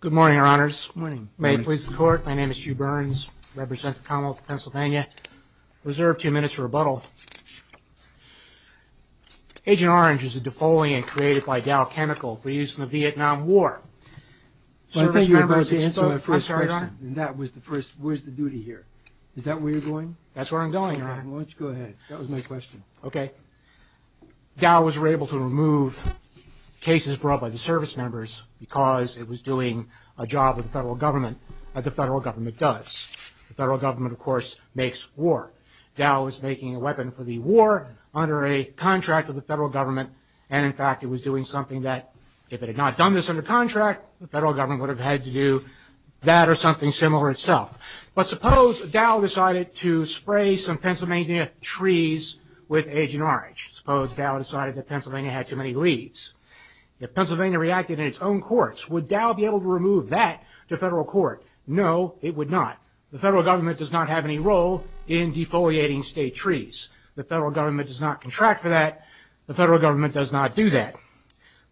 Good morning, Your Honors. May it please the Court. My name is Hugh Burns, Representative of the Commonwealth of PA. I reserve two minutes for rebuttal. Agent Orange is a defoliant created by Dow Chemical for use in the Vietnam War. I think you're about to answer my first question. I'm sorry, Your Honor. Where's the duty here? Is that where you're going? That's where I'm going, Your Honor. Well, why don't you go ahead. That was my question. Okay. Dow was able to remove cases brought by the service members because it was doing a job with the federal government, as the federal government does. The federal government, of course, makes war. Dow was making a weapon for the war under a contract with the federal government, and in fact it was doing something that if it had not done this under contract, the federal government would have had to do that or something similar itself. But suppose Dow decided to spray some Pennsylvania trees with Agent Orange. Suppose Dow decided that Pennsylvania had too many leaves. If Pennsylvania reacted in its own courts, would Dow be able to remove that to federal court? No, it would not. The federal government does not have any role in defoliating state trees. The federal government does not contract for that. The federal government does not do that.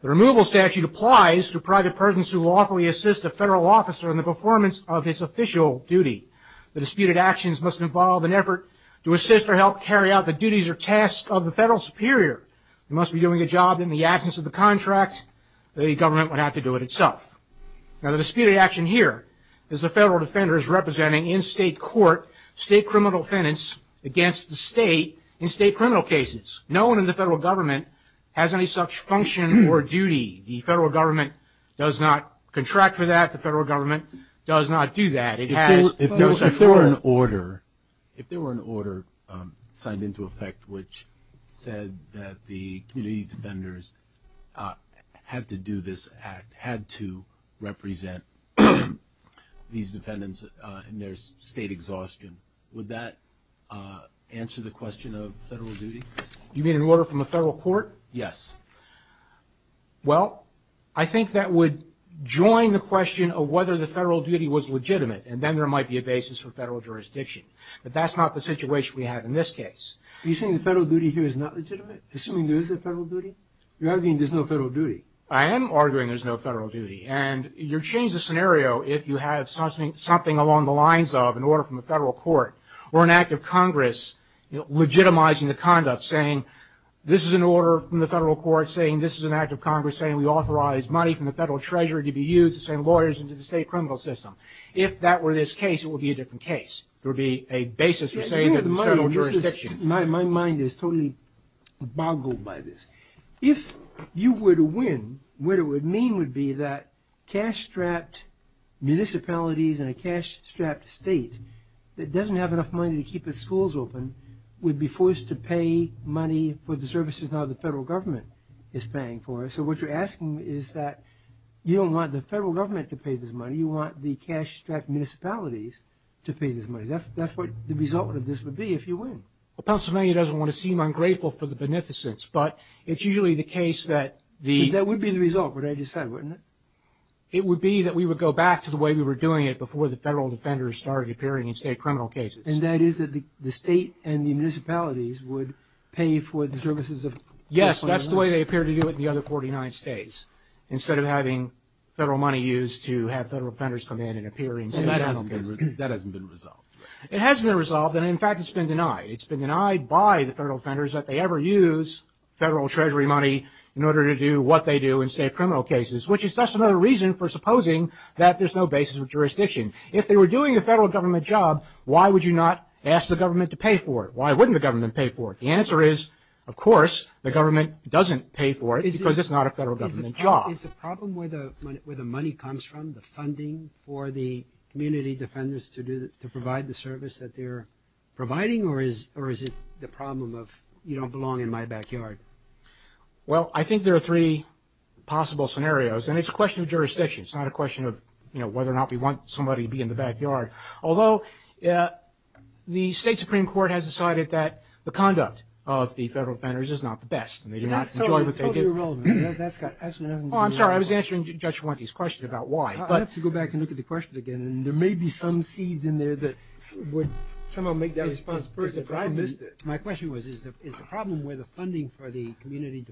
The removal statute applies to private persons who lawfully assist a federal officer in the performance of his official duty. The disputed actions must involve an effort to assist or help carry out the duties or tasks of the federal superior. It must be doing a job in the absence of the contract. The government would have to do it itself. Now the disputed action here is the federal defenders representing in state court state criminal defendants against the state in state criminal cases. No one in the federal government has any such function or duty. The federal government does not contract for that. The federal government does not do that. If there were an order signed into effect which said that the community defenders had to do this act, had to represent these defendants in their state exhaustion, would that answer the question of federal duty? You mean an order from a federal court? Yes. Well, I think that would join the question of whether the federal duty was legitimate and then there might be a basis for federal jurisdiction. But that's not the situation we have in this case. Are you saying the federal duty here is not legitimate? Assuming there is a federal duty? You're arguing there's no federal duty. I am arguing there's no federal duty. And you change the scenario if you have something along the lines of an order from a federal court or an act of Congress legitimizing the conduct, saying this is an order from the federal court, saying this is an act of Congress, saying we authorize money from the federal treasury to be used to send lawyers into the state criminal system. If that were this case, it would be a different case. There would be a basis for saying there's federal jurisdiction. My mind is totally boggled by this. If you were to win, what it would mean would be that cash-strapped municipalities and a cash-strapped state that doesn't have enough money to keep its schools open would be forced to pay money for the services now the federal government is paying for. So what you're asking is that you don't want the federal government to pay this money. You want the cash-strapped municipalities to pay this money. That's what the result of this would be if you win. Well, Pennsylvania doesn't want to seem ungrateful for the beneficence, but it's usually the case that the – That would be the result, what I just said, wouldn't it? It would be that we would go back to the way we were doing it before the federal defenders started appearing in state criminal cases. And that is that the state and the municipalities would pay for the services of – Yes, that's the way they appear to do it in the other 49 states, instead of having federal money used to have federal defenders come in and appear in state criminal cases. That hasn't been resolved. It hasn't been resolved, and in fact it's been denied. It's been denied by the federal defenders that they ever use federal treasury money in order to do what they do in state criminal cases, which is just another reason for supposing that there's no basis of jurisdiction. If they were doing a federal government job, why would you not ask the government to pay for it? Why wouldn't the government pay for it? The answer is, of course, the government doesn't pay for it because it's not a federal government job. Is the problem where the money comes from, the funding for the community defenders to provide the service that they're providing, or is it the problem of you don't belong in my backyard? Well, I think there are three possible scenarios, and it's a question of jurisdiction. It's not a question of whether or not we want somebody to be in the backyard. Although the state Supreme Court has decided that the conduct of the federal defenders is not the best, and they do not enjoy what they get. That's totally irrelevant. I'm sorry, I was answering Judge Warnky's question about why. I have to go back and look at the question again, and there may be some seeds in there that would somehow make that a responsibility. My question was, is the problem where the funding for the community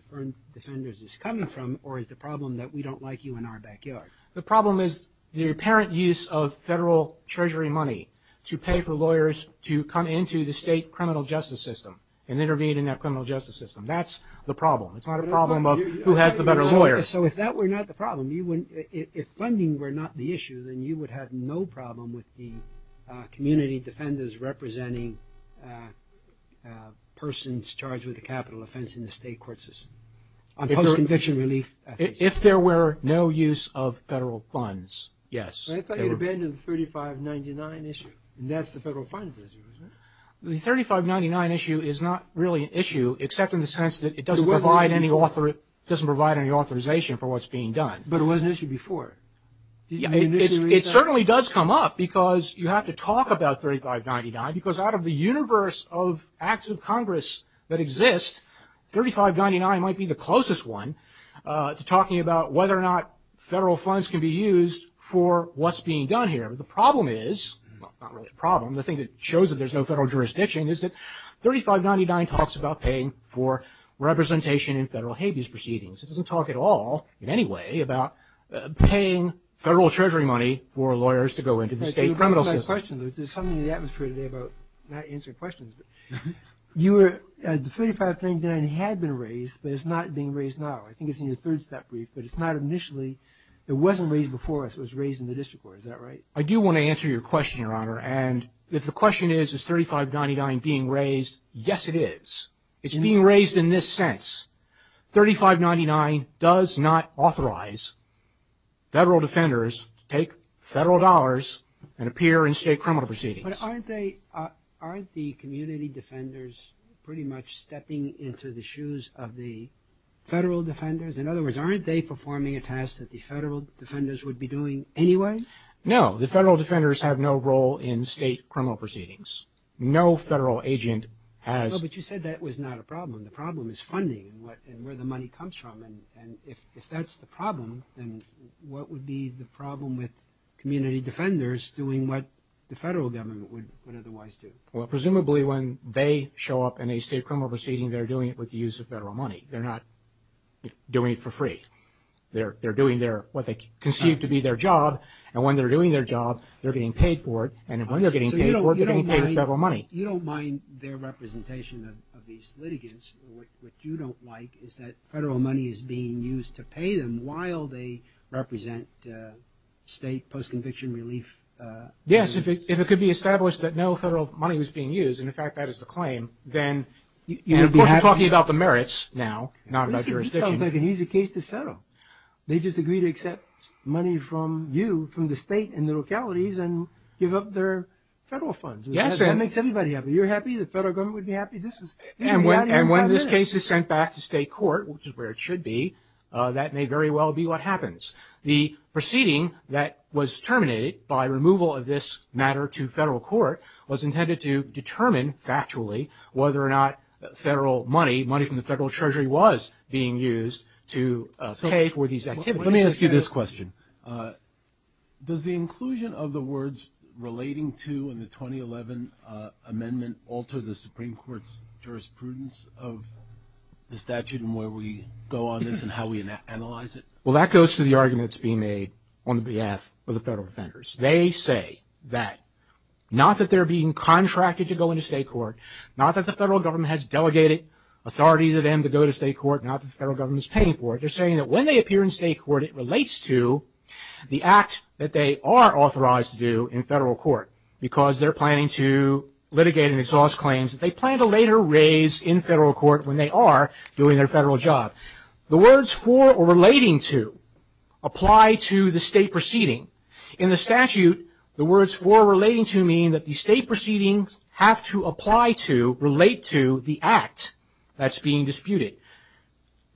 defenders is coming from, or is the problem that we don't like you in our backyard? The problem is the apparent use of federal treasury money to pay for lawyers to come into the state criminal justice system and intervene in that criminal justice system. That's the problem. It's not a problem of who has the better lawyers. So if that were not the problem, if funding were not the issue, then you would have no problem with the community defenders representing persons charged with a capital offense in the state court system on post-conviction relief cases? If there were no use of federal funds, yes. I thought you abandoned the 3599 issue, and that's the federal funds issue, isn't it? The 3599 issue is not really an issue, except in the sense that it doesn't provide any authorization for what's being done. But it was an issue before. It certainly does come up, because you have to talk about 3599, because out of the universe of acts of Congress that exist, 3599 might be the closest one to talking about whether or not federal funds can be used for what's being done here. The problem is, well, not really a problem, the thing that shows that there's no federal jurisdiction, is that 3599 talks about paying for representation in federal habeas proceedings. It doesn't talk at all, in any way, about paying federal treasury money for lawyers to go into the state criminal system. There's something in the atmosphere today about not answering questions. The 3599 had been raised, but it's not being raised now. I think it's in your third-step brief, but it's not initially. It wasn't raised before us. It was raised in the district court. Is that right? I do want to answer your question, Your Honor, and if the question is, is 3599 being raised, yes, it is. It's being raised in this sense. 3599 does not authorize federal defenders to take federal dollars and appear in state criminal proceedings. But aren't they, aren't the community defenders pretty much stepping into the shoes of the federal defenders? In other words, aren't they performing a task that the federal defenders would be doing anyway? No, the federal defenders have no role in state criminal proceedings. No federal agent has. No, but you said that was not a problem. The problem is funding and where the money comes from, and if that's the problem, then what would be the problem with community defenders doing what the federal government would otherwise do? Well, presumably when they show up in a state criminal proceeding, they're doing it with the use of federal money. They're not doing it for free. They're doing what they conceive to be their job, and when they're doing their job, they're getting paid for it, and when they're getting paid for it, they're getting paid with federal money. You don't mind their representation of these litigants. What you don't like is that federal money is being used to pay them while they represent state post-conviction relief. Yes, if it could be established that no federal money was being used, and, in fact, that is the claim, then you would be happy. Of course, you're talking about the merits now, not about jurisdiction. He's a case to settle. They just agree to accept money from you, from the state and the localities, and give up their federal funds. That makes everybody happy. You're happy? The federal government would be happy? And when this case is sent back to state court, which is where it should be, that may very well be what happens. The proceeding that was terminated by removal of this matter to federal court was intended to determine, factually, whether or not federal money, money from the federal treasury, was being used to pay for these activities. Let me ask you this question. Does the inclusion of the words relating to the 2011 amendment alter the Supreme Court's jurisprudence of the statute and where we go on this and how we analyze it? Well, that goes to the argument that's being made on behalf of the federal defenders. They say that, not that they're being contracted to go into state court, not that the federal government has delegated authority to them to go to state court, not that the federal government is paying for it. They're saying that when they appear in state court, it relates to the act that they are authorized to do in federal court because they're planning to litigate and exhaust claims that they plan to later raise in federal court when they are doing their federal job. The words for or relating to apply to the state proceeding. In the statute, the words for or relating to mean that the state proceedings have to apply to, relate to the act that's being disputed.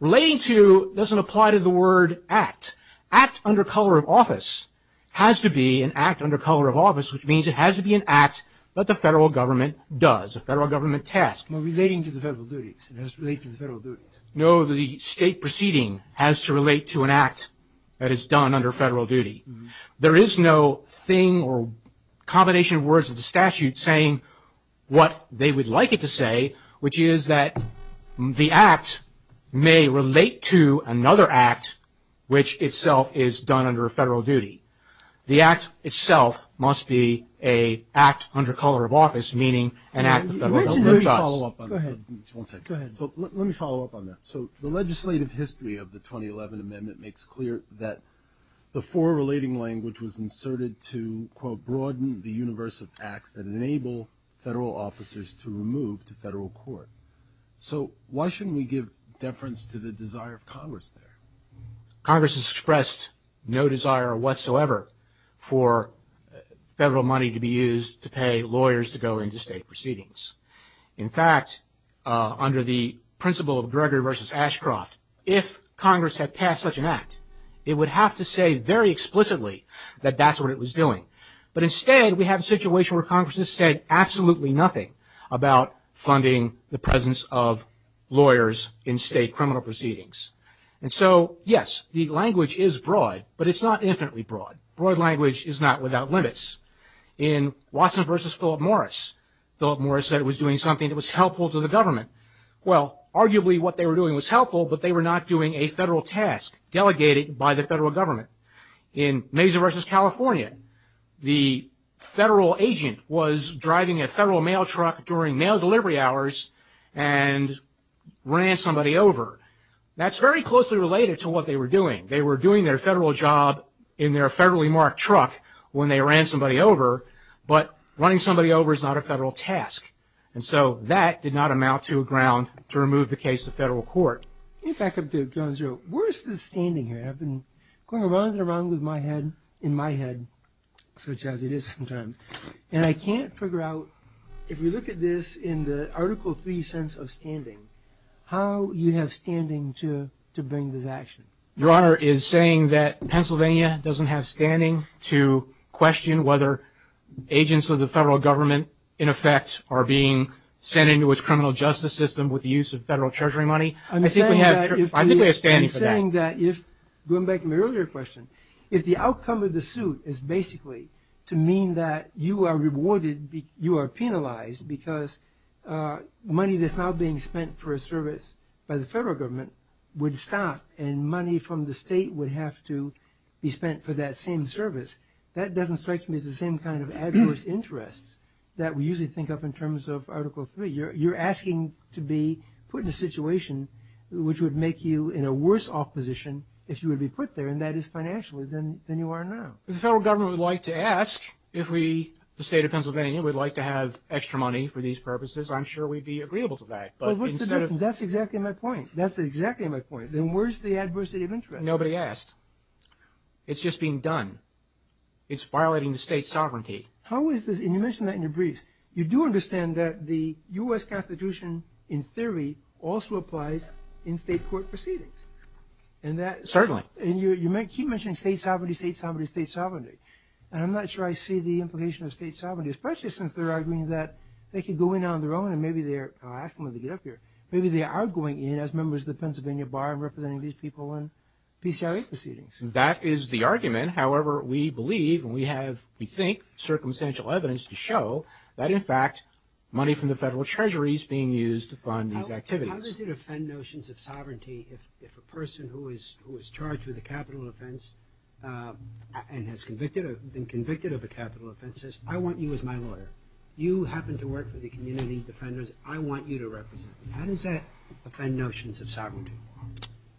Relating to doesn't apply to the word act. Act under color of office has to be an act under color of office, which means it has to be an act that the federal government does, a federal government task. Relating to the federal duties. It has to relate to the federal duties. No, the state proceeding has to relate to an act that is done under federal duty. There is no thing or combination of words in the statute saying what they would like it to say, which is that the act may relate to another act, which itself is done under federal duty. The act itself must be an act under color of office, meaning an act the federal government does. Let me follow up on that. Go ahead. One second. Go ahead. Let me follow up on that. So the legislative history of the 2011 amendment makes clear that the for or relating language was inserted to, quote, broaden the universe of acts that enable federal officers to remove to federal court. So why shouldn't we give deference to the desire of Congress there? Congress has expressed no desire whatsoever for federal money to be used to pay lawyers to go into state proceedings. In fact, under the principle of Gregory versus Ashcroft, if Congress had passed such an act, it would have to say very explicitly that that's what it was doing. But instead, we have a situation where Congress has said absolutely nothing about funding the presence of lawyers in state criminal proceedings. And so, yes, the language is broad, but it's not infinitely broad. Broad language is not without limits. In Watson versus Philip Morris, Philip Morris said it was doing something that was helpful to the government. Well, arguably what they were doing was helpful, but they were not doing a federal task delegated by the federal government. In Mazer versus California, the federal agent was driving a federal mail truck during mail delivery hours and ran somebody over. That's very closely related to what they were doing. They were doing their federal job in their federally marked truck when they ran somebody over. But running somebody over is not a federal task. And so that did not amount to a ground to remove the case to federal court. Let me back up to John's row. Where is the standing here? I've been going around and around with my head in my head, such as it is sometimes. And I can't figure out, if you look at this in the Article III sense of standing, how you have standing to bring this action. Your Honor is saying that Pennsylvania doesn't have standing to question whether agents of the federal government, in effect, are being sent into its criminal justice system with the use of federal treasury money? I think we have standing for that. I'm saying that if, going back to my earlier question, if the outcome of the suit is basically to mean that you are rewarded, you are penalized, because money that's now being spent for a service by the federal government would stop and money from the state would have to be spent for that same service. That doesn't strike me as the same kind of adverse interest that we usually think of in terms of Article III. You're asking to be put in a situation which would make you in a worse off position if you would be put there, and that is financially, than you are now. If the federal government would like to ask if we, the state of Pennsylvania, would like to have extra money for these purposes, I'm sure we'd be agreeable to that. But what's the difference? That's exactly my point. That's exactly my point. Then where's the adversity of interest? Nobody asked. It's just being done. It's violating the state sovereignty. How is this? And you mentioned that in your briefs. You do understand that the U.S. Constitution, in theory, also applies in state court proceedings. Certainly. And you keep mentioning state sovereignty, state sovereignty, state sovereignty, and I'm not sure I see the implication of state sovereignty, especially since they're arguing that they could go in on their own and maybe they're – I'll ask them when they get up here – maybe they are going in as members of the Pennsylvania Bar and representing these people in PCIA proceedings. That is the argument. However, we believe and we have, we think, circumstantial evidence to show that, in fact, money from the federal treasury is being used to fund these activities. How does it offend notions of sovereignty if a person who is charged with a capital offense and has been convicted of a capital offense says, I want you as my lawyer. You happen to work for the community defenders. I want you to represent me. How does that offend notions of sovereignty?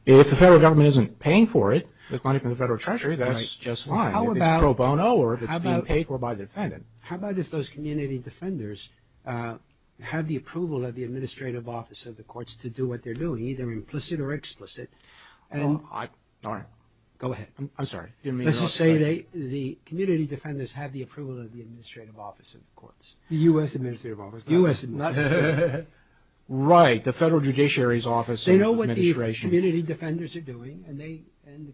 If the federal government isn't paying for it, money from the federal treasury, that's just fine. If it's pro bono or if it's being paid for by the defendant. How about if those community defenders have the approval of the administrative office of the courts to do what they're doing, either implicit or explicit, and – All right. Go ahead. I'm sorry. Let's just say the community defenders have the approval of the administrative office of the courts. The U.S. administrative office. U.S. Right. The federal judiciary's office of administration. They know what the community defenders are doing, and the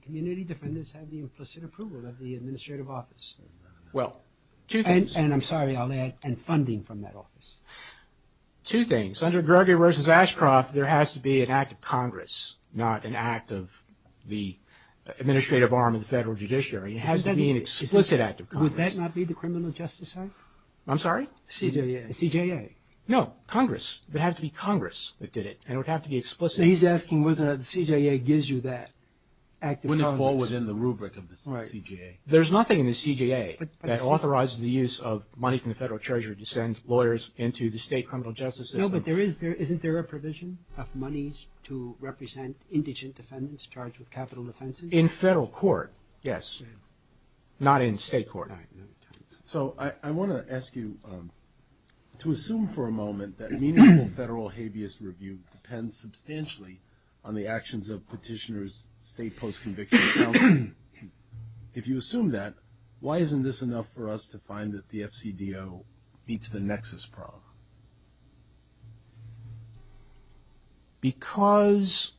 community defenders have the implicit approval of the administrative office. Well, two things. And I'm sorry. I'll add, and funding from that office. Under Gregory v. Ashcroft, there has to be an act of Congress, not an act of the administrative arm of the federal judiciary. It has to be an explicit act of Congress. Would that not be the criminal justice act? I'm sorry? CJA. The CJA. No, Congress. It would have to be Congress that did it, and it would have to be explicit. He's asking whether the CJA gives you that act of Congress. Wouldn't it fall within the rubric of the CJA? Right. There's nothing in the CJA that authorizes the use of money from the federal treasury to send lawyers into the state criminal justice system. No, but isn't there a provision of monies to represent indigent defendants charged with capital offenses? In federal court, yes. Not in state court. So I want to ask you to assume for a moment that meaningful federal habeas review depends substantially on the actions of petitioners, state post-conviction counsel. If you assume that, why isn't this enough for us to find that the FCDO meets the nexus problem? Because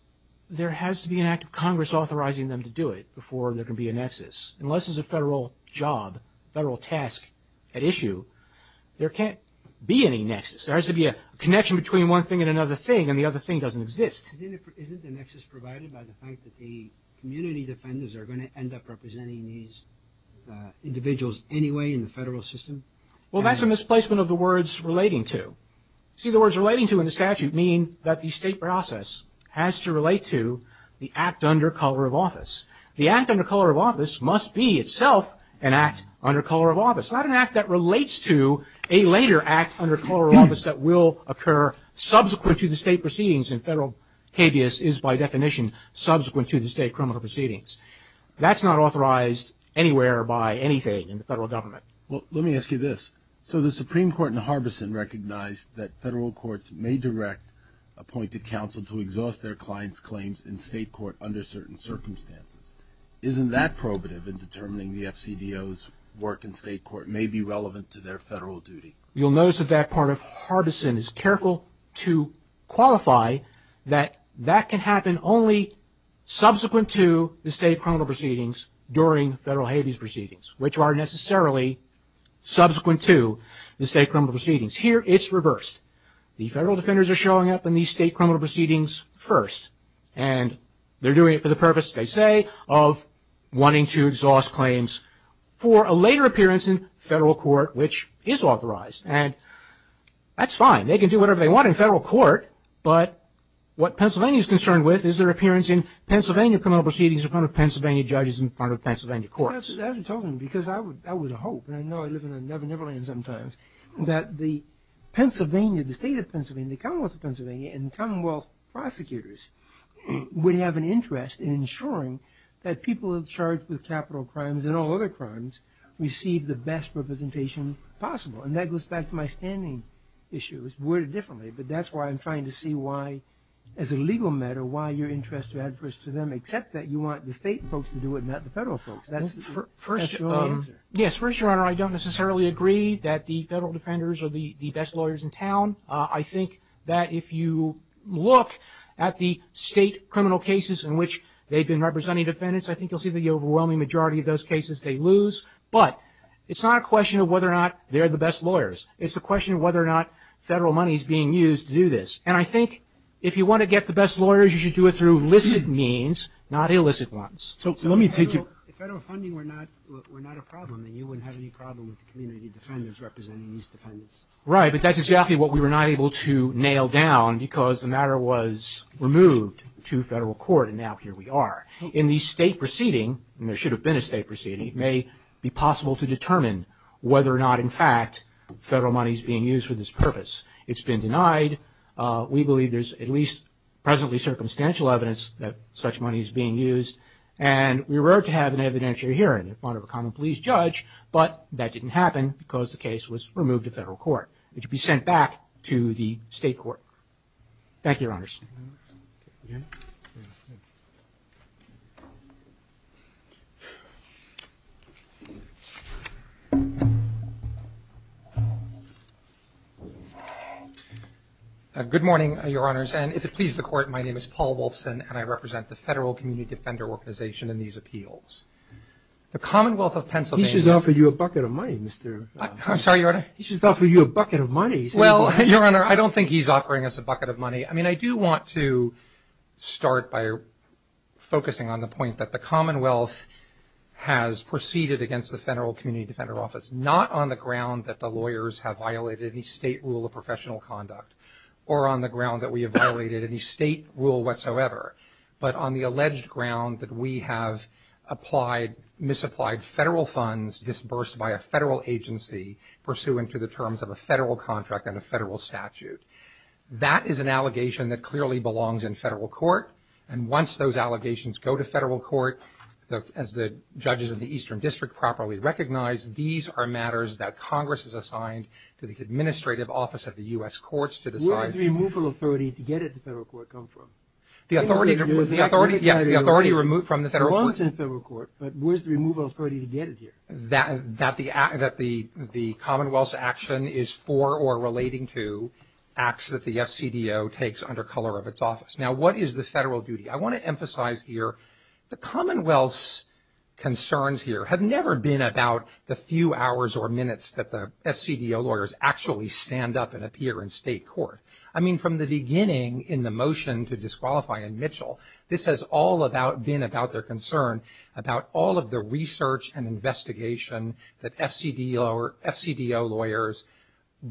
there has to be an act of Congress authorizing them to do it before there can be a nexus. Unless it's a federal job, federal task at issue, there can't be any nexus. There has to be a connection between one thing and another thing, and the other thing doesn't exist. Isn't the nexus provided by the fact that the community defenders are going to end up representing these individuals anyway in the federal system? Well, that's a misplacement of the words relating to. See, the words relating to in the statute mean that the state process has to relate to the act under color of office. The act under color of office must be itself an act under color of office, not an act that relates to a later act under color of office that will occur subsequent to the state proceedings in federal habeas is by definition subsequent to the state criminal proceedings. That's not authorized anywhere by anything in the federal government. Well, let me ask you this. So the Supreme Court in Harbison recognized that federal courts may direct appointed counsel to exhaust their client's claims in state court under certain circumstances. Isn't that probative in determining the FCDO's work in state court may be relevant to their federal duty? You'll notice that that part of Harbison is careful to qualify that that can happen only subsequent to the state criminal proceedings during federal habeas proceedings, which are necessarily subsequent to the state criminal proceedings. Here it's reversed. The federal defenders are showing up in these state criminal proceedings first, and they're doing it for the purpose, they say, of wanting to exhaust claims for a later appearance in federal court, which is authorized. And that's fine. They can do whatever they want in federal court, but what Pennsylvania is concerned with is their appearance in Pennsylvania criminal proceedings in front of Pennsylvania judges in front of Pennsylvania courts. As you're talking, because that was a hope, and I know I live in Neverland sometimes, that the Pennsylvania, the state of Pennsylvania, the Commonwealth of Pennsylvania, and Commonwealth prosecutors would have an interest in ensuring that people charged with capital crimes and all other crimes receive the best representation possible. And that goes back to my standing issue. It's worded differently, but that's why I'm trying to see why, as a legal matter, why you're interested in adverse to them, except that you want the state folks to do it and not the federal folks. That's your answer. Yes. First, Your Honor, I don't necessarily agree that the federal defenders are the best lawyers in town. I think that if you look at the state criminal cases in which they've been representing defendants, I think you'll see the overwhelming majority of those cases they lose. But it's not a question of whether or not they're the best lawyers. It's a question of whether or not federal money is being used to do this. And I think if you want to get the best lawyers, you should do it through illicit means, not illicit ones. So let me take your question. If federal funding were not a problem, then you wouldn't have any problem with the community defenders representing these defendants. Right, but that's exactly what we were not able to nail down because the matter was removed to federal court, and now here we are. In the state proceeding, and there should have been a state proceeding, it may be possible to determine whether or not, in fact, federal money is being used for this purpose. It's been denied. We believe there's at least presently circumstantial evidence that such money is being used, and we were to have an evidentiary hearing in front of a common police judge, but that didn't happen because the case was removed to federal It should be sent back to the state court. Thank you, Your Honors. Okay. Good morning, Your Honors, and if it pleases the court, my name is Paul Wolfson and I represent the Federal Community Defender Organization in these appeals. The Commonwealth of Pennsylvania He should offer you a bucket of money, Mr. I'm sorry, Your Honor. He should offer you a bucket of money. I mean, I do want to start by focusing on the point that the Commonwealth has proceeded against the Federal Community Defender Office, not on the ground that the lawyers have violated any state rule of professional conduct, or on the ground that we have violated any state rule whatsoever, but on the alleged ground that we have applied, misapplied federal funds disbursed by a federal agency, pursuant to the terms of a federal contract and a federal statute. That is an allegation that clearly belongs in federal court, and once those allegations go to federal court, as the judges of the Eastern District properly recognize, these are matters that Congress has assigned to the administrative office of the U.S. courts to decide. Where does the removal authority to get it to federal court come from? The authority, yes, the authority removed from the federal court. It belongs in federal court, but where's the removal authority to get it here? That the Commonwealth's action is for or relating to acts that the FCDO takes under color of its office. Now, what is the federal duty? I want to emphasize here the Commonwealth's concerns here have never been about the few hours or minutes that the FCDO lawyers actually stand up and appear in state court. I mean, from the beginning in the motion to disqualify in Mitchell, this has all been about their concern, about all of the research and investigation that FCDO lawyers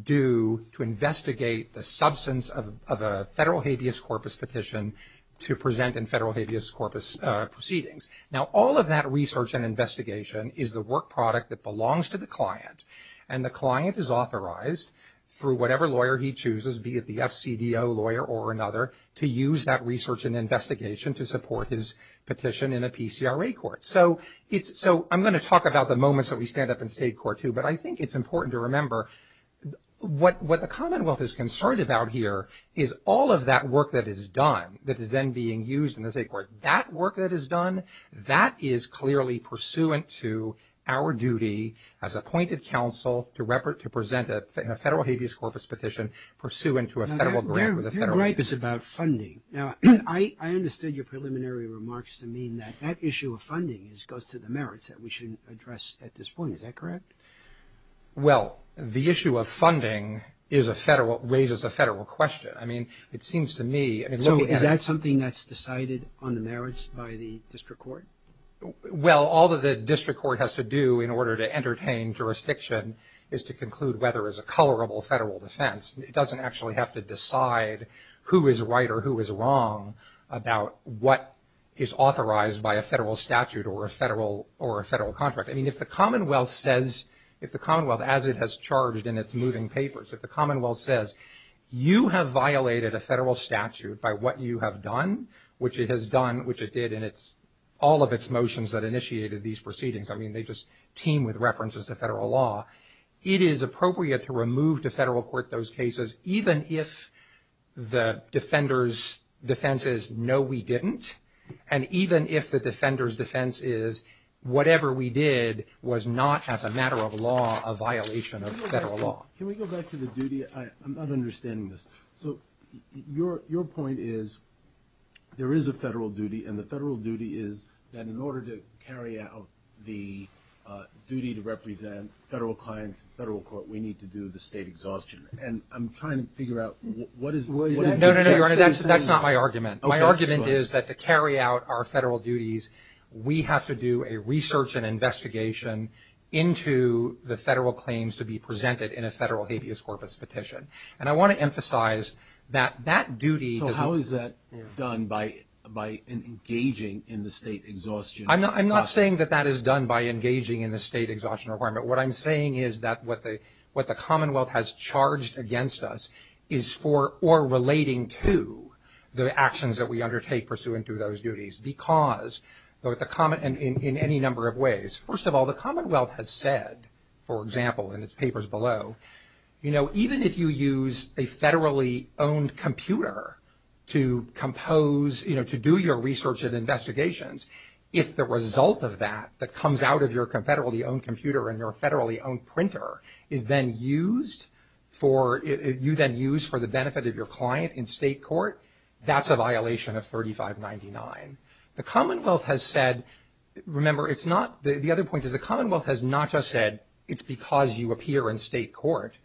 do to investigate the substance of a federal habeas corpus petition to present in federal habeas corpus proceedings. Now, all of that research and investigation is the work product that belongs to the client, and the client is authorized through whatever lawyer he chooses, be it the FCDO lawyer or another, to use that research and investigation to support his petition in a PCRA court. So I'm going to talk about the moments that we stand up in state court too, but I think it's important to remember what the Commonwealth is concerned about here is all of that work that is done, that is then being used in the state court. That work that is done, that is clearly pursuant to our duty as appointed counsel to present a federal habeas corpus petition pursuant to a federal grant Their gripe is about funding. Now, I understood your preliminary remarks to mean that that issue of funding goes to the merits that we should address at this point. Is that correct? Well, the issue of funding is a federal, raises a federal question. I mean, it seems to me So is that something that's decided on the merits by the district court? Well, all that the district court has to do in order to entertain jurisdiction is to conclude whether it's a colorable federal defense. It doesn't actually have to decide who is right or who is wrong about what is authorized by a federal statute or a federal contract. I mean, if the Commonwealth says, if the Commonwealth, as it has charged in its moving papers, if the Commonwealth says, you have violated a federal statute by what you have done, which it has done, which it did, and it's all of its motions that initiated these proceedings. I mean, they just team with references to federal law. It is appropriate to remove to federal court those cases, even if the defender's defense is, no, we didn't. And even if the defender's defense is, whatever we did was not as a matter of law a violation of federal law. Can we go back to the duty? I'm not understanding this. So your point is there is a federal duty, and the federal duty is that in order to carry out the duty to represent federal clients in federal court, we need to do the state exhaustion. And I'm trying to figure out what is that? No, no, no, Your Honor, that's not my argument. My argument is that to carry out our federal duties, we have to do a research and investigation into the federal claims to be presented in a federal habeas corpus petition. And I want to emphasize that that duty – So how is that done by engaging in the state exhaustion process? I'm not saying that that is done by engaging in the state exhaustion requirement. What I'm saying is that what the Commonwealth has charged against us is for or relating to the actions that we undertake pursuant to those duties. Because in any number of ways, first of all, the Commonwealth has said, for example, in its papers below, even if you use a federally owned computer to compose, to do your research and investigations, if the result of that that comes out of your federally owned computer and your federally owned printer is then used for – you then use for the benefit of your client in state court, that's a violation of 3599. The Commonwealth has said – remember, it's not – the other point is the Commonwealth has not just said, it's because you appear in state court,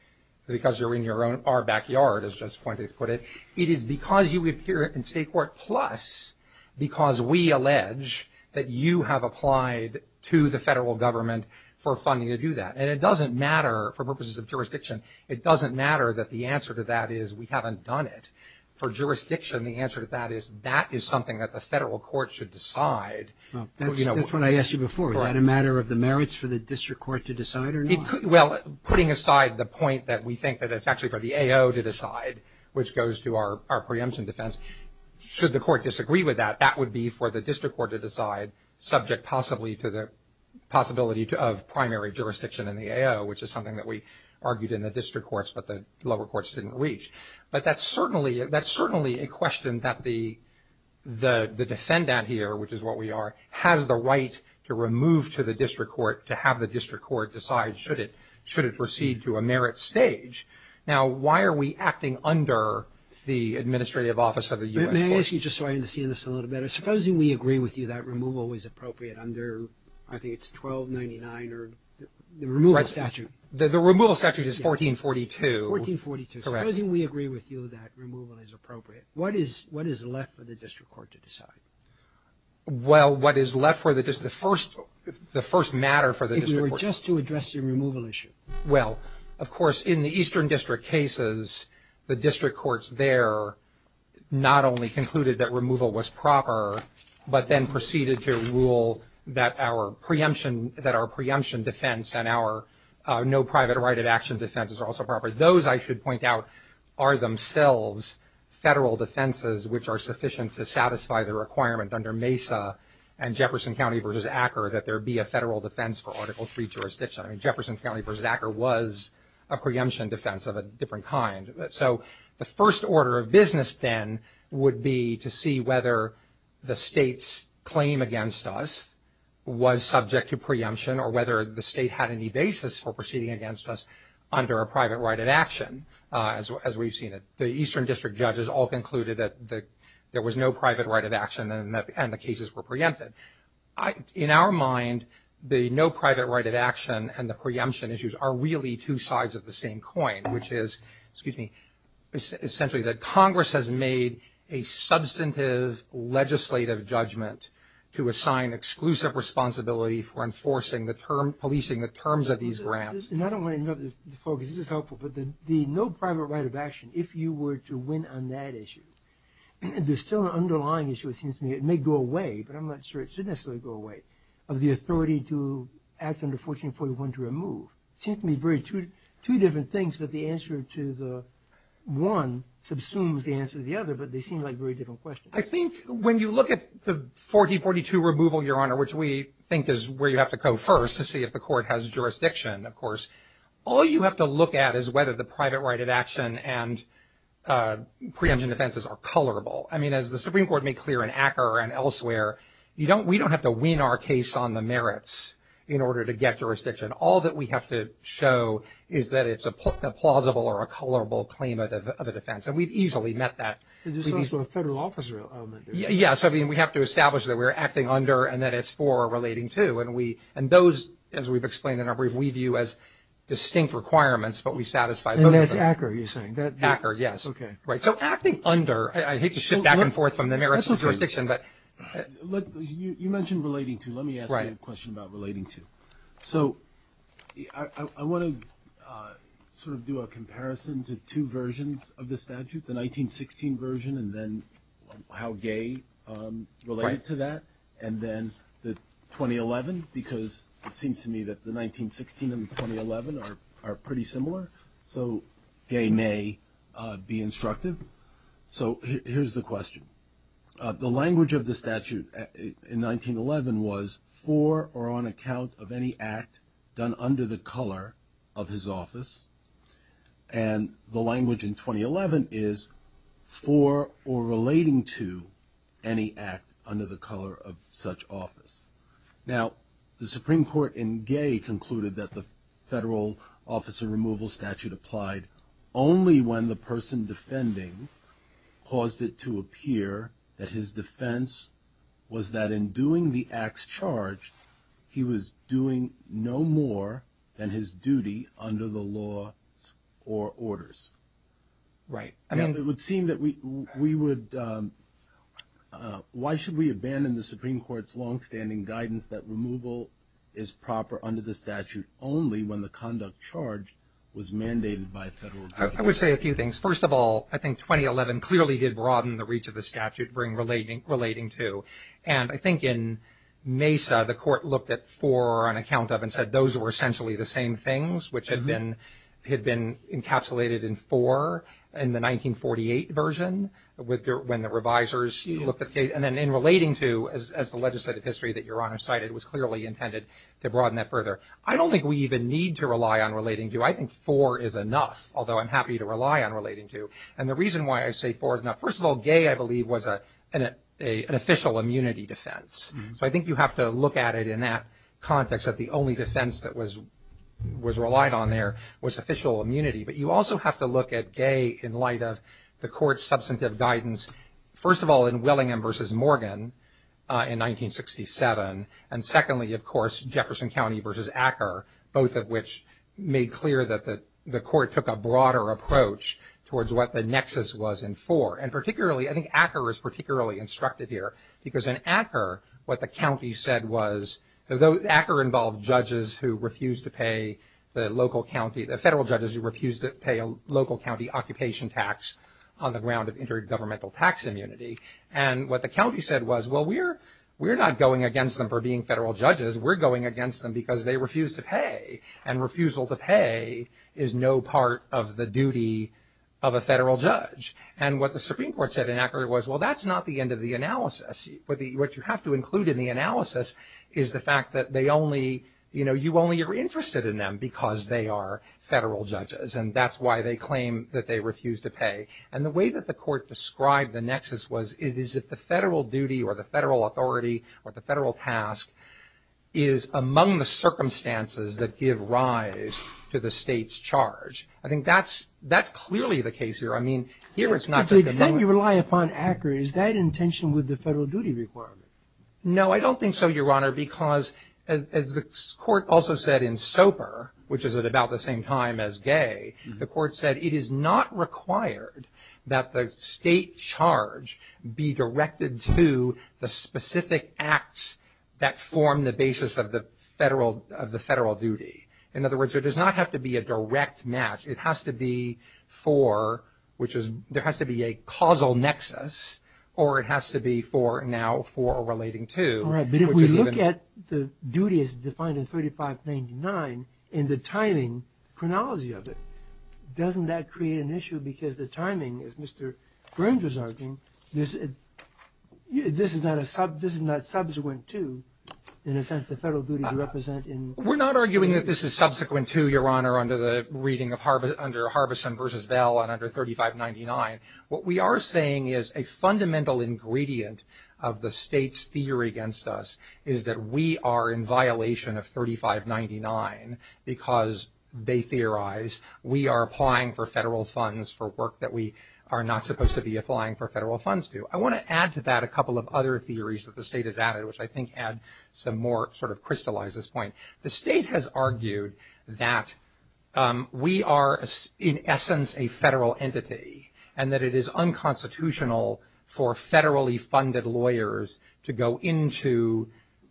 because you're in your own – our backyard, as Judge Fuente put it. It is because you appear in state court plus because we allege that you have applied to the federal government for funding to do that. And it doesn't matter, for purposes of jurisdiction, it doesn't matter that the answer to that is we haven't done it. For jurisdiction, the answer to that is that is something that the federal court should decide. That's what I asked you before. Is that a matter of the merits for the district court to decide or not? Well, putting aside the point that we think that it's actually for the AO to decide, which goes to our preemption defense, should the court disagree with that, that would be for the district court to decide, subject possibly to the possibility of primary jurisdiction in the AO, which is something that we argued in the district courts, but the lower courts didn't reach. But that's certainly a question that the defendant here, which is what we are, has the right to remove to the district court, to have the district court decide should it proceed to a merit stage. Now, why are we acting under the administrative office of the U.S. court? May I ask you, just so I understand this a little better, supposing we agree with you that removal is appropriate under, I think it's 1299, or the removal statute. The removal statute is 1442. 1442. Correct. Supposing we agree with you that removal is appropriate, what is left for the district court to decide? Well, what is left for the district court, the first matter for the district court. If you were just to address the removal issue. Well, of course, in the Eastern District cases, the district courts there not only concluded that removal was proper, but then proceeded to rule that our preemption defense and our no private right of action defense is also proper. Those, I should point out, are themselves federal defenses, which are sufficient to satisfy the requirement under MESA and Jefferson County v. Acker that there be a federal defense for Article III jurisdiction. I mean, Jefferson County v. Acker was a preemption defense of a different kind. So the first order of business then would be to see whether the state's claim against us was subject to preemption or whether the state had any basis for proceeding against us under a private right of action, as we've seen it. The Eastern District judges all concluded that there was no private right of action and the cases were preempted. In our mind, the no private right of action and the preemption issues are really two sides of the same coin, which is essentially that Congress has made a substantive legislative judgment to assign exclusive responsibility for policing the terms of these grants. And I don't want to interrupt the focus. This is helpful. But the no private right of action, if you were to win on that issue, there's still an underlying issue, it seems to me. It should go away, but I'm not sure it should necessarily go away, of the authority to act under 1441 to remove. It seems to me two different things, but the answer to the one subsumes the answer to the other, but they seem like very different questions. I think when you look at the 1442 removal, Your Honor, which we think is where you have to go first to see if the court has jurisdiction, of course, all you have to look at is whether the private right of action and preemption defenses are colorable. I mean, as the Supreme Court made clear in Acker and elsewhere, we don't have to wean our case on the merits in order to get jurisdiction. All that we have to show is that it's a plausible or a colorable claim of a defense, and we've easily met that. There's also a federal officer element. Yes. I mean, we have to establish that we're acting under and that it's for or relating to, and those, as we've explained in our brief, we view as distinct requirements, but we satisfy those. And that's Acker you're saying? Acker, yes. Okay. Right. So acting under, I hate to shift back and forth from the merits of jurisdiction, but. You mentioned relating to. Let me ask you a question about relating to. So I want to sort of do a comparison to two versions of the statute, the 1916 version and then how gay related to that, and then the 2011, because it seems to me that the 1916 and the 2011 are pretty similar. So gay may be instructive. So here's the question. The language of the statute in 1911 was for or on account of any act done under the color of his office. And the language in 2011 is for or relating to any act under the color of such office. Now, the Supreme Court in gay concluded that the federal officer removal statute applied only when the person defending caused it to appear that his defense was that in doing the act's charge, he was doing no more than his duty under the laws or orders. Right. Now, it would seem that we would, why should we abandon the Supreme Court's longstanding guidance that removal is proper under the statute only when the conduct charge was mandated by a federal judge? I would say a few things. First of all, I think 2011 clearly did broaden the reach of the statute relating to. And I think in Mesa the court looked at for or on account of and said those were essentially the same things, which had been encapsulated in for in the 1948 version, when the revisers looked at the case. And then in relating to, as the legislative history that Your Honor cited, was clearly intended to broaden that further. I don't think we even need to rely on relating to. I think for is enough, although I'm happy to rely on relating to. And the reason why I say for is not. First of all, gay, I believe, was an official immunity defense. So I think you have to look at it in that context, that the only defense that was relied on there was official immunity. But you also have to look at gay in light of the court's substantive guidance. First of all, in Willingham v. Morgan in 1967. And secondly, of course, Jefferson County v. Acker, both of which made clear that the court took a broader approach towards what the nexus was in for. And particularly, I think Acker is particularly instructed here. Because in Acker, what the county said was, Acker involved judges who refused to pay the local county, the federal judges who refused to pay a local county occupation tax on the ground of intergovernmental tax immunity. And what the county said was, well, we're not going against them for being federal judges. We're going against them because they refused to pay. And refusal to pay is no part of the duty of a federal judge. And what the Supreme Court said in Acker was, well, that's not the end of the analysis. What you have to include in the analysis is the fact that they only, you know, you only are interested in them because they are federal judges. And that's why they claim that they refuse to pay. And the way that the court described the nexus was, is that the federal duty or the federal authority or the federal task is among the circumstances that give rise to the state's charge. I think that's clearly the case here. I mean, here it's not just a moment. But the extent you rely upon Acker, is that in tension with the federal duty requirement? No, I don't think so, Your Honor, because as the court also said in Soper, which is at about the same time as Gay, the court said it is not required that the state charge be directed to the specific acts that form the basis of the federal duty. In other words, there does not have to be a direct match. It has to be for, which is, there has to be a causal nexus, or it has to be for now for relating to. All right. But if we look at the duties defined in 3599 in the timing chronology of it, doesn't that create an issue? Because the timing, as Mr. Burns was arguing, this is not a sub, this is not subsequent to, in a sense, the federal duties represent in. We're not arguing that this is subsequent to, Your Honor, under the reading of Harbison versus Bell and under 3599. What we are saying is a fundamental ingredient of the state's theory against us is that we are in violation of 3599 because they theorize we are applying for federal funds for work that we are not supposed to be applying for federal funds to. I want to add to that a couple of other theories that the state has added, which I think add some more sort of crystallizes this point. The state has argued that we are in essence a federal entity and that it is unconstitutional for federally funded lawyers to go into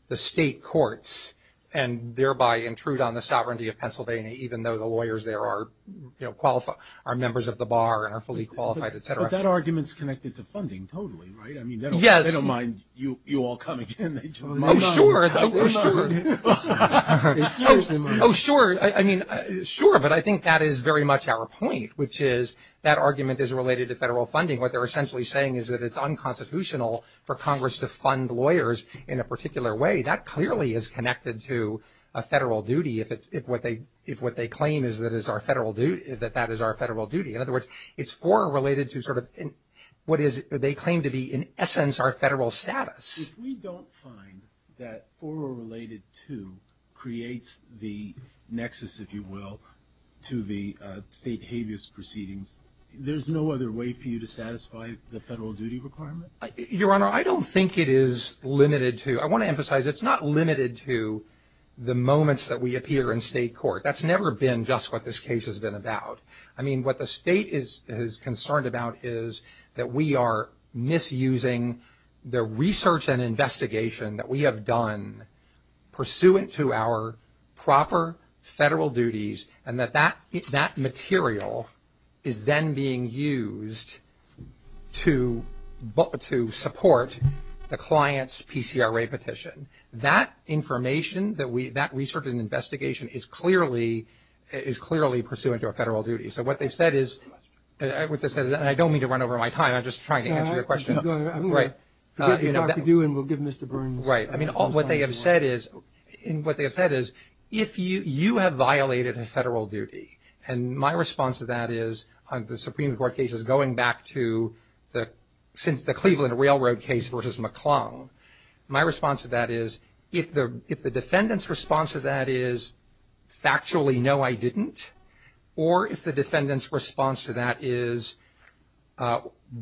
the state courts and thereby intrude on the sovereignty of Pennsylvania, even though the lawyers there are members of the bar and are fully qualified, et cetera. But that argument is connected to funding totally, right? Yes. I don't mind you all coming in. Oh, sure. Oh, sure. Oh, sure. I mean, sure, but I think that is very much our point, which is that argument is related to federal funding. What they're essentially saying is that it's unconstitutional for Congress to fund lawyers in a particular way. That clearly is connected to a federal duty if what they claim is that that is our federal duty. In other words, it's for or related to sort of what they claim to be in essence our federal status. If we don't find that for or related to creates the nexus, if you will, to the state habeas proceedings, there's no other way for you to satisfy the federal duty requirement? Your Honor, I don't think it is limited to. I want to emphasize it's not limited to the moments that we appear in state court. That's never been just what this case has been about. I mean, what the state is concerned about is that we are misusing the research and investigation that we have done pursuant to our proper federal duties and that that material is then being used to support the client's PCRA petition. That information, that research and investigation is clearly pursuant to a federal duty. So what they've said is, and I don't mean to run over my time. I'm just trying to answer your question. I'm going to forgive you, Dr. Dewin. We'll give Mr. Burns some time to answer. Right. I mean, what they have said is if you have violated a federal duty, and my response to that is the Supreme Court case is going back to since the Cleveland Railroad case versus McClung, my response to that is if the defendant's response to that is factually no, I didn't, or if the defendant's response to that is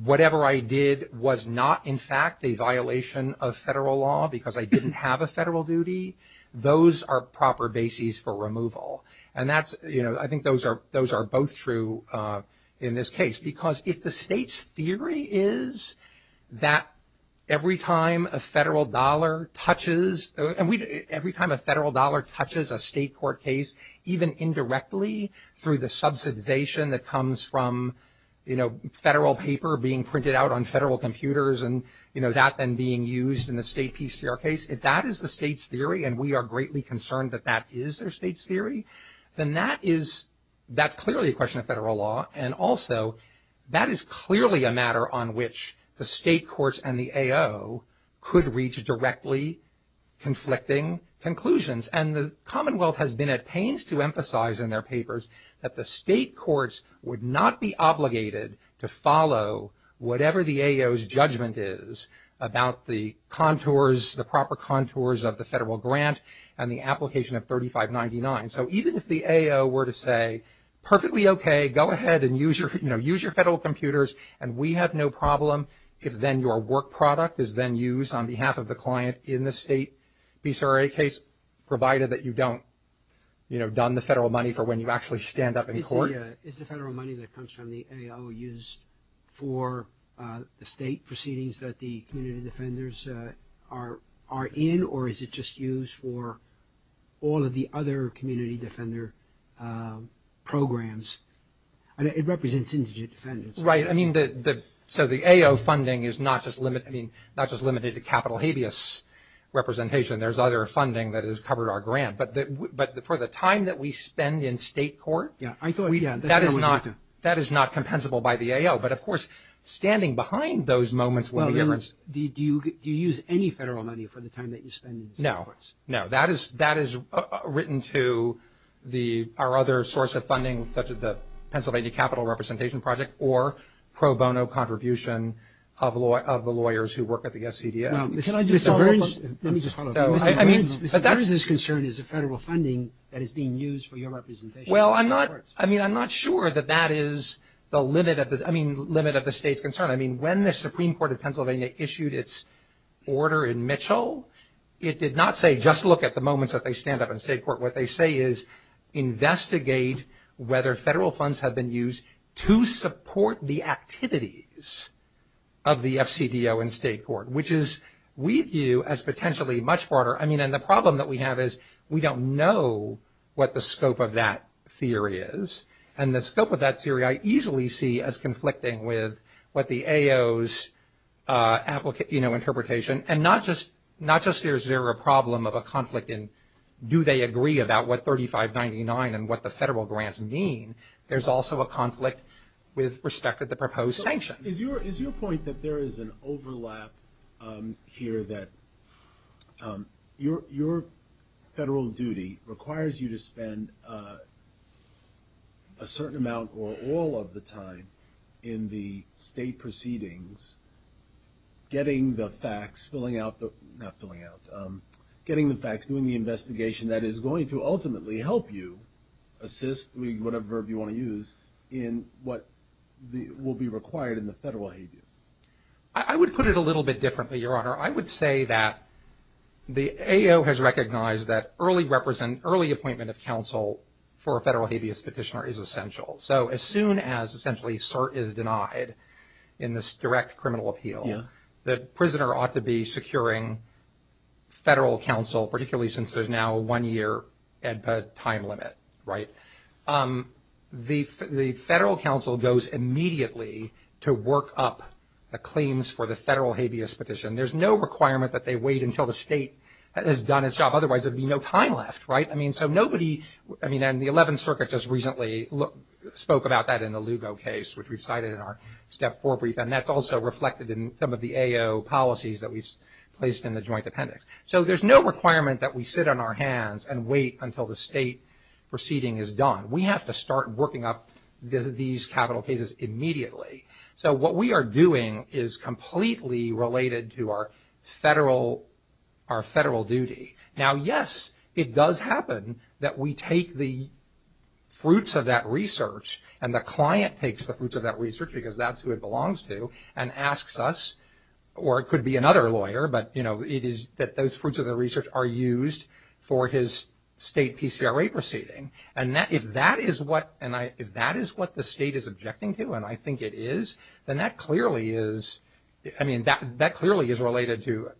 whatever I did was not in fact a violation of federal law because I didn't have a federal duty, those are proper bases for removal. And that's, you know, I think those are both true in this case. Because if the state's theory is that every time a federal dollar touches, and every time a federal dollar touches a state court case, even indirectly through the subsidization that comes from, you know, federal paper being printed out on federal computers and, you know, that then being used in the state PCR case, if that is the state's theory and we are greatly concerned that that is their state's theory, then that is, that's clearly a question of federal law. And also, that is clearly a matter on which the state courts and the AO could reach directly conflicting conclusions. And the Commonwealth has been at pains to emphasize in their papers that the state courts would not be obligated to follow whatever the AO's judgment is about the contours, the proper contours of the federal grant and the application of 3599. So even if the AO were to say, perfectly okay, go ahead and use your, you know, use your federal computers and we have no problem, if then your work product is then used on behalf of the client in the state PCRA case, provided that you don't, you know, done the federal money for when you actually stand up in court. Is the federal money that comes from the AO used for the state proceedings that the community defenders are in, or is it just used for all of the other community defender programs? It represents indigent defendants. Right. I mean, so the AO funding is not just limited to capital habeas representation. There's other funding that has covered our grant. But for the time that we spend in state court, that is not compensable by the AO. But, of course, standing behind those moments would be different. Do you use any federal money for the time that you spend in state courts? No, no. That is written to our other source of funding, such as the Pennsylvania Capital Representation Project, or pro bono contribution of the lawyers who work at the SCDA. Mr. Burns' concern is the federal funding that is being used for your representation. Well, I'm not sure that that is the limit of the state's concern. I mean, when the Supreme Court of Pennsylvania issued its order in Mitchell, it did not say just look at the moments that they stand up in state court. What they say is investigate whether federal funds have been used to support the activities of the FCDO in state court, which is, we view as potentially much broader. I mean, and the problem that we have is we don't know what the scope of that theory is. And the scope of that theory I easily see as conflicting with what the AO's interpretation. And not just is there a problem of a conflict in do they agree about what 3599 and what the federal grants mean, there's also a conflict with respect to the proposed sanctions. Is your point that there is an overlap here that your federal duty requires you to spend a certain amount or all of the time in the state proceedings getting the facts, filling out the, not filling out, getting the facts, doing the investigation that is going to ultimately help you assist, whatever verb you want to use, in what will be required in the federal habeas? I would put it a little bit differently, Your Honor. I would say that the AO has recognized that early appointment of counsel for a federal habeas petitioner is essential. So as soon as essentially cert is denied in this direct criminal appeal, the prisoner ought to be securing federal counsel, particularly since there's now a one-year time limit, right? The federal counsel goes immediately to work up the claims for the federal habeas petition. There's no requirement that they wait until the state has done its job. Otherwise, there would be no time left, right? I mean, so nobody, I mean, and the 11th Circuit just recently spoke about that in the Lugo case, which we've cited in our step four brief, and that's also reflected in some of the AO policies that we've placed in the joint appendix. So there's no requirement that we sit on our hands and wait until the state proceeding is done. We have to start working up these capital cases immediately. So what we are doing is completely related to our federal duty. Now, yes, it does happen that we take the fruits of that research, and the client takes the fruits of that research because that's who it belongs to, and asks us, or it could be another lawyer, but, you know, it is that those fruits of the research are used for his state PCRA proceeding. And if that is what the state is objecting to, and I think it is, then that clearly is, I mean, that clearly is related to,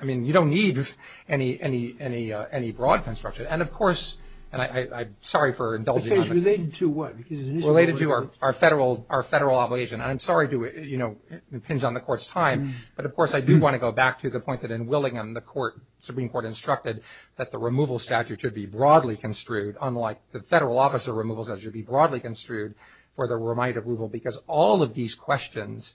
I mean, you don't need any broad construction. And, of course, and I'm sorry for indulging on it. Related to what? Related to our federal obligation, and I'm sorry to, you know, impinge on the Court's time, but, of course, I do want to go back to the point that in Willingham the Supreme Court instructed that the removal statute should be broadly construed, unlike the federal officer removal statute should be broadly construed for the remit of removal, because all of these questions,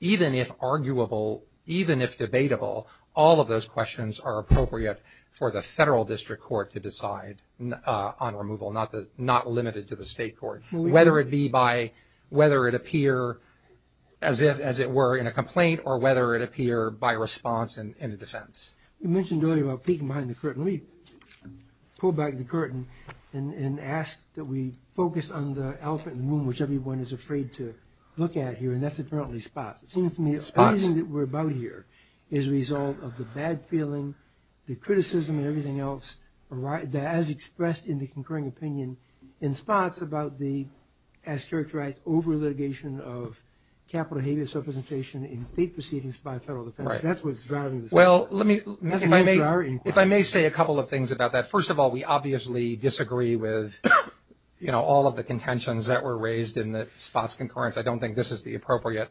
even if arguable, even if debatable, all of those questions are appropriate for the federal district court to decide on removal, not limited to the state court, whether it be by, whether it appear, as it were, in a complaint, or whether it appear by response in a defense. You mentioned earlier about peeking behind the curtain. Let me pull back the curtain and ask that we focus on the elephant in the room, which everyone is afraid to look at here, and that's apparently Spots. It seems to me everything that we're about here is a result of the bad feeling, the criticism, and everything else, as expressed in the concurring opinion in Spots about the, as characterized, over-litigation of capital habeas representation in state proceedings by federal defense. That's what's driving this. Well, let me, if I may, if I may say a couple of things about that. First of all, we obviously disagree with, you know, all of the contentions that were raised in the Spots concurrence. I don't think this is the appropriate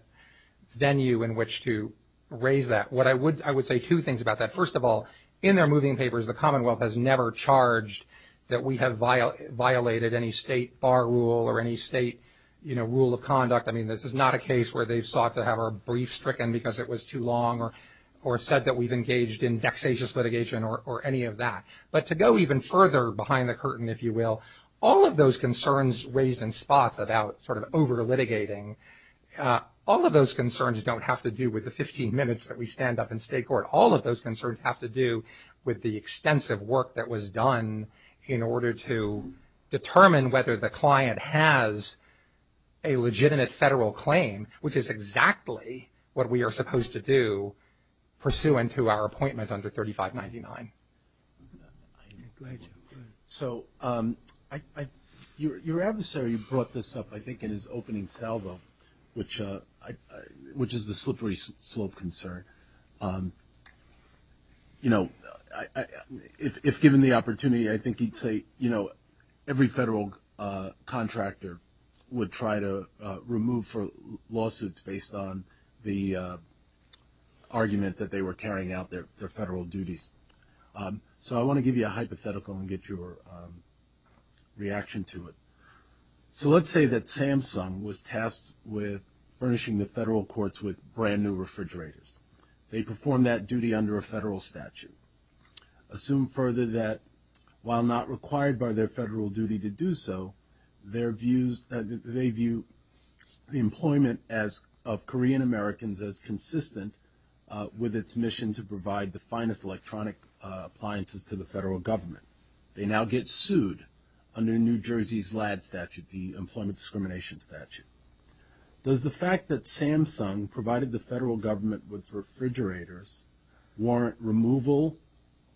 venue in which to raise that. What I would, I would say two things about that. First of all, in their moving papers, the Commonwealth has never charged that we have violated any state bar rule or any state, you know, rule of conduct. I mean, this is not a case where they've sought to have our briefs stricken because it was too long or said that we've engaged in vexatious litigation or any of that. But to go even further behind the curtain, if you will, all of those concerns raised in Spots about sort of over-litigating, all of those concerns don't have to do with the 15 minutes that we stand up in state court. All of those concerns have to do with the extensive work that was done in order to determine whether the client has a legitimate federal claim, which is exactly what we are supposed to do pursuant to our appointment under 3599. So your adversary brought this up, I think, in his opening salvo, which is the slippery slope concern. You know, if given the opportunity, I think he'd say, you know, every federal contractor would try to remove lawsuits based on the argument that they were carrying out their federal duties. So I want to give you a hypothetical and get your reaction to it. So let's say that Samsung was tasked with furnishing the federal courts with brand-new refrigerators. They performed that duty under a federal statute. Assume further that while not required by their federal duty to do so, they view the employment of Korean-Americans as consistent with its mission to provide the finest electronic appliances to the federal government. They now get sued under New Jersey's LADD statute, the Employment Discrimination Statute. Does the fact that Samsung provided the federal government with refrigerators warrant removal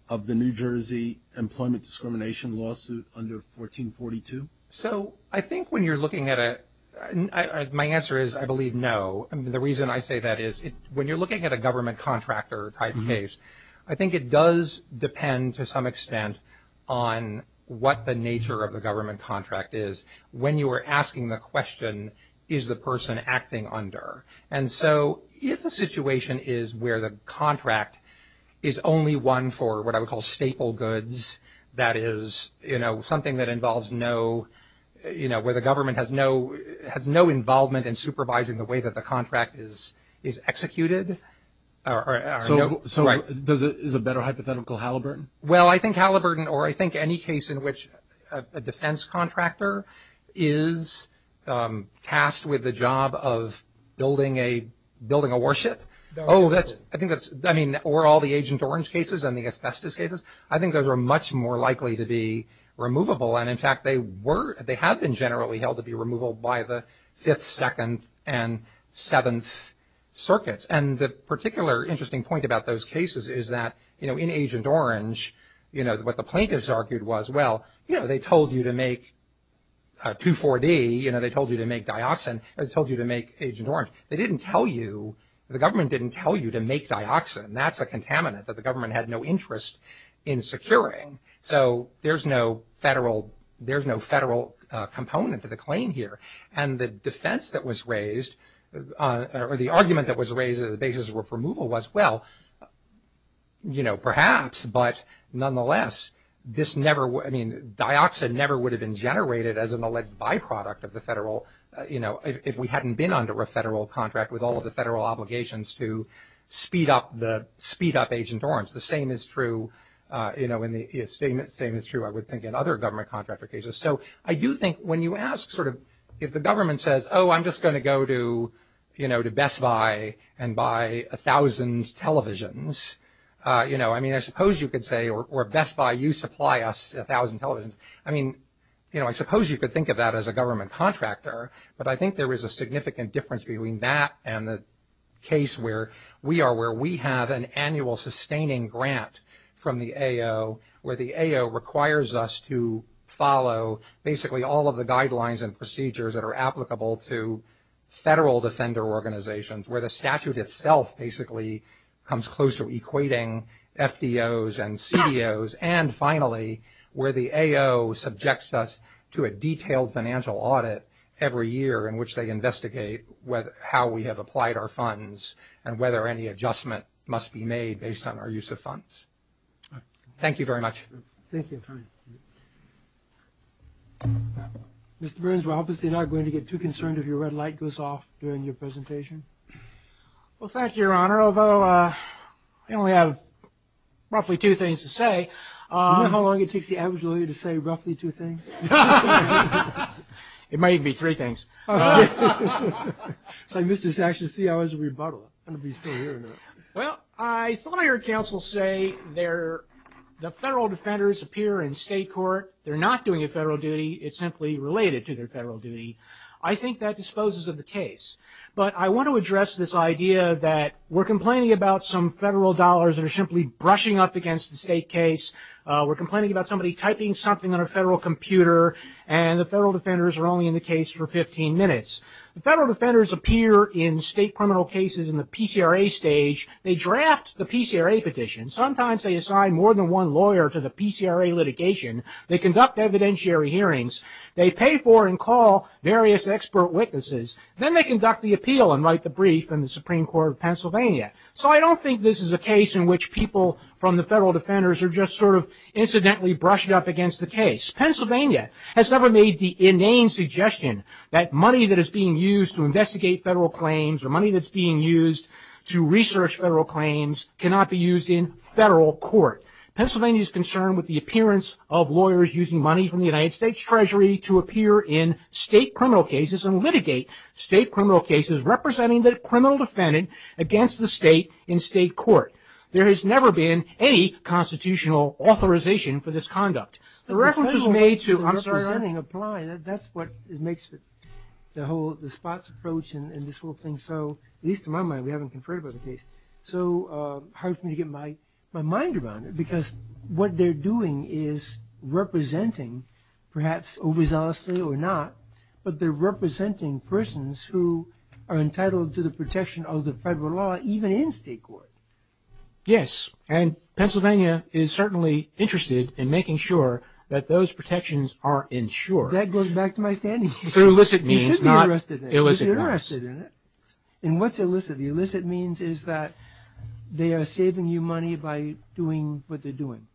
of the New Jersey Employment Discrimination Lawsuit under 1442? So I think when you're looking at it, my answer is I believe no. The reason I say that is when you're looking at a government contractor type case, I think it does depend to some extent on what the nature of the government contract is. When you are asking the question, is the person acting under? And so if the situation is where the contract is only one for what I would call staple goods, that is, you know, something that involves no, you know, where the government has no involvement in supervising the way that the contract is executed. So is a better hypothetical Halliburton? Well, I think Halliburton or I think any case in which a defense contractor is tasked with the job of building a warship. Oh, I think that's, I mean, or all the Agent Orange cases and the asbestos cases. I think those are much more likely to be removable. And, in fact, they were, they have been generally held to be removable by the 5th, 2nd, and 7th circuits. And the particular interesting point about those cases is that, you know, in Agent Orange, you know, what the plaintiffs argued was, well, you know, they told you to make 2,4-D. You know, they told you to make dioxin. They told you to make Agent Orange. They didn't tell you, the government didn't tell you to make dioxin. That's a contaminant that the government had no interest in securing. So there's no federal, there's no federal component to the claim here. And the defense that was raised, or the argument that was raised as the basis of removal was, well, you know, perhaps. But, nonetheless, this never, I mean, dioxin never would have been generated as an alleged byproduct of the federal, you know, if we hadn't been under a federal contract with all of the federal obligations to speed up the, speed up Agent Orange. The same is true, you know, and the same is true, I would think, in other government contractor cases. So I do think when you ask sort of, if the government says, oh, I'm just going to go to, you know, to Best Buy and buy 1,000 televisions, you know, I mean, I suppose you could say, or Best Buy, you supply us 1,000 televisions. I mean, you know, I suppose you could think of that as a government contractor. But I think there is a significant difference between that and the case where we are, where we have an annual sustaining grant from the AO, where the AO requires us to follow basically all of the guidelines and procedures that are applicable to federal defender organizations, where the statute itself basically comes close to equating FDOs and CDOs. And finally, where the AO subjects us to a detailed financial audit every year in which they investigate whether, how we have applied our funds and whether any adjustment must be made based on our use of funds. Thank you very much. Thank you. Mr. Burns, we're obviously not going to get too concerned if your red light goes off during your presentation. Well, thank you, Your Honor. Although, I only have roughly two things to say. Do you know how long it takes the average lawyer to say roughly two things? It might even be three things. It's like Mr. Sash's three hours of rebuttal. I'm going to be still hearing it. Well, I thought I heard counsel say the federal defenders appear in state court. They're not doing a federal duty. It's simply related to their federal duty. I think that disposes of the case. But I want to address this idea that we're complaining about some federal dollars that are simply brushing up against the state case. We're complaining about somebody typing something on a federal computer, and the federal defenders are only in the case for 15 minutes. The federal defenders appear in state criminal cases in the PCRA stage. They draft the PCRA petition. Sometimes they assign more than one lawyer to the PCRA litigation. They conduct evidentiary hearings. They pay for and call various expert witnesses. Then they conduct the appeal and write the brief in the Supreme Court of Pennsylvania. So I don't think this is a case in which people from the federal defenders are just sort of incidentally brushed up against the case. Pennsylvania has never made the inane suggestion that money that is being used to investigate federal claims or money that's being used to research federal claims cannot be used in federal court. Pennsylvania is concerned with the appearance of lawyers using money from the United States Treasury to appear in state criminal cases and litigate state criminal cases representing the criminal defendant against the state in state court. There has never been any constitutional authorization for this conduct. The reference was made to – I'm sorry, I didn't apply. That's what makes the whole – the spots approach and this whole thing so – at least in my mind. We haven't conferred about the case. So it's hard for me to get my mind around it because what they're doing is representing, perhaps overzealously or not, but they're representing persons who are entitled to the protection of the federal law even in state court. Yes, and Pennsylvania is certainly interested in making sure that those protections are ensured. That goes back to my standing issue. So illicit means not illicit. You should be interested in it because you're interested in it. And what's illicit? Illicit means is that they are saving you money by doing what they're doing.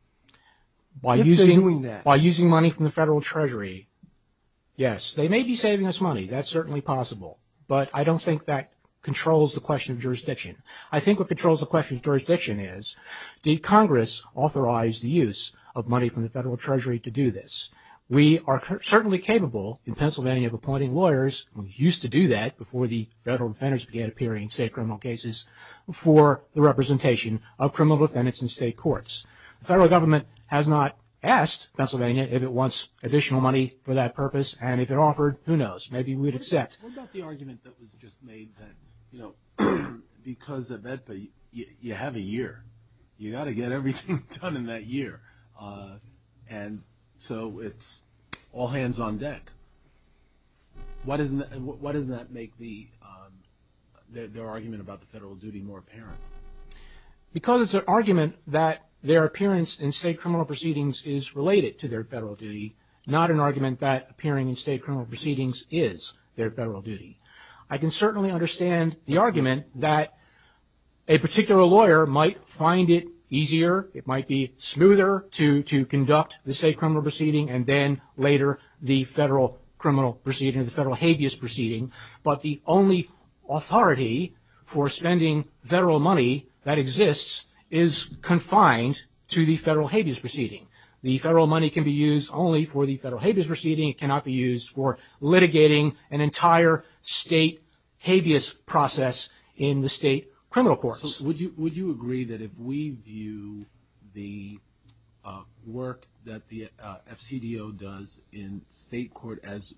If they're doing that. By using money from the federal treasury, yes. They may be saving us money. That's certainly possible. But I don't think that controls the question of jurisdiction. I think what controls the question of jurisdiction is did Congress authorize the use of money from the federal treasury to do this? We are certainly capable in Pennsylvania of appointing lawyers, and we used to do that before the federal defendants began appearing in state criminal cases, for the representation of criminal defendants in state courts. The federal government has not asked Pennsylvania if it wants additional money for that purpose. And if it offered, who knows? Maybe we'd accept. What about the argument that was just made that, you know, because of that, you have a year. You've got to get everything done in that year. And so it's all hands on deck. Why doesn't that make the argument about the federal duty more apparent? Because it's an argument that their appearance in state criminal proceedings is related to their federal duty, not an argument that appearing in state criminal proceedings is their federal duty. I can certainly understand the argument that a particular lawyer might find it easier, it might be smoother to conduct the state criminal proceeding, and then later the federal criminal proceeding, the federal habeas proceeding. But the only authority for spending federal money that exists is confined to the federal habeas proceeding. The federal money can be used only for the federal habeas proceeding. It cannot be used for litigating an entire state habeas process in the state criminal courts. So would you agree that if we view the work that the FCDO does in state court as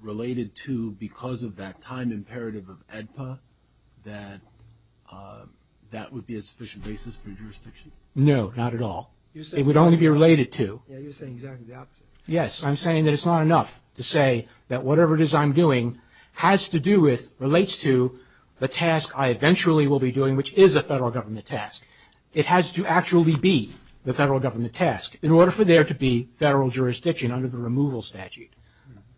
related to, because of that time imperative of AEDPA, that that would be a sufficient basis for jurisdiction? No, not at all. It would only be related to. Yeah, you're saying exactly the opposite. Yes. I'm saying that it's not enough to say that whatever it is I'm doing has to do with, relates to the task I eventually will be doing, which is a federal government task. It has to actually be the federal government task in order for there to be federal jurisdiction under the removal statute.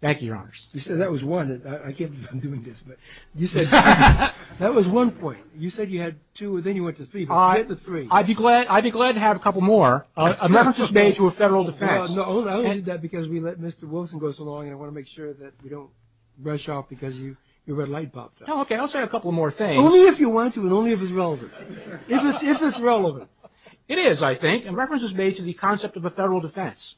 Thank you, Your Honors. You said that was one. I can't believe I'm doing this, but you said that was one point. You said you had two, and then you went to three, but forget the three. I'd be glad to have a couple more. A reference is made to a federal defense. No, I only did that because we let Mr. Wilson go so long, and I want to make sure that we don't rush out because your red light popped up. Okay, I'll say a couple more things. Only if you want to, and only if it's relevant. If it's relevant. It is, I think. A reference is made to the concept of a federal defense.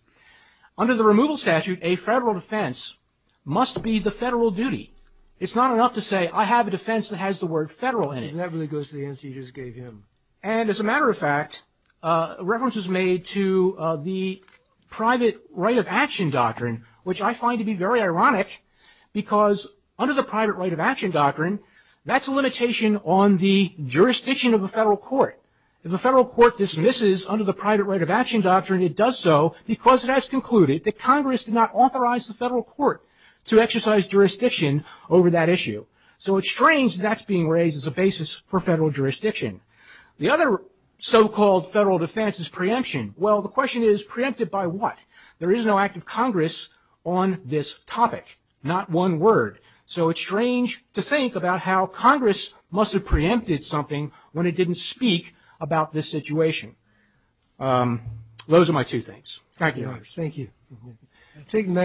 Under the removal statute, a federal defense must be the federal duty. It's not enough to say I have a defense that has the word federal in it. That really goes to the answer you just gave him. And as a matter of fact, a reference is made to the private right of action doctrine, which I find to be very ironic because under the private right of action doctrine, that's a limitation on the jurisdiction of the federal court. If a federal court dismisses under the private right of action doctrine, it does so because it has concluded that Congress did not authorize the federal court to exercise jurisdiction over that issue. So it's strange that that's being raised as a basis for federal jurisdiction. The other so-called federal defense is preemption. Well, the question is, preempted by what? There is no act of Congress on this topic. Not one word. So it's strange to think about how Congress must have preempted something when it didn't speak about this situation. Those are my two things. Thank you. Thank you.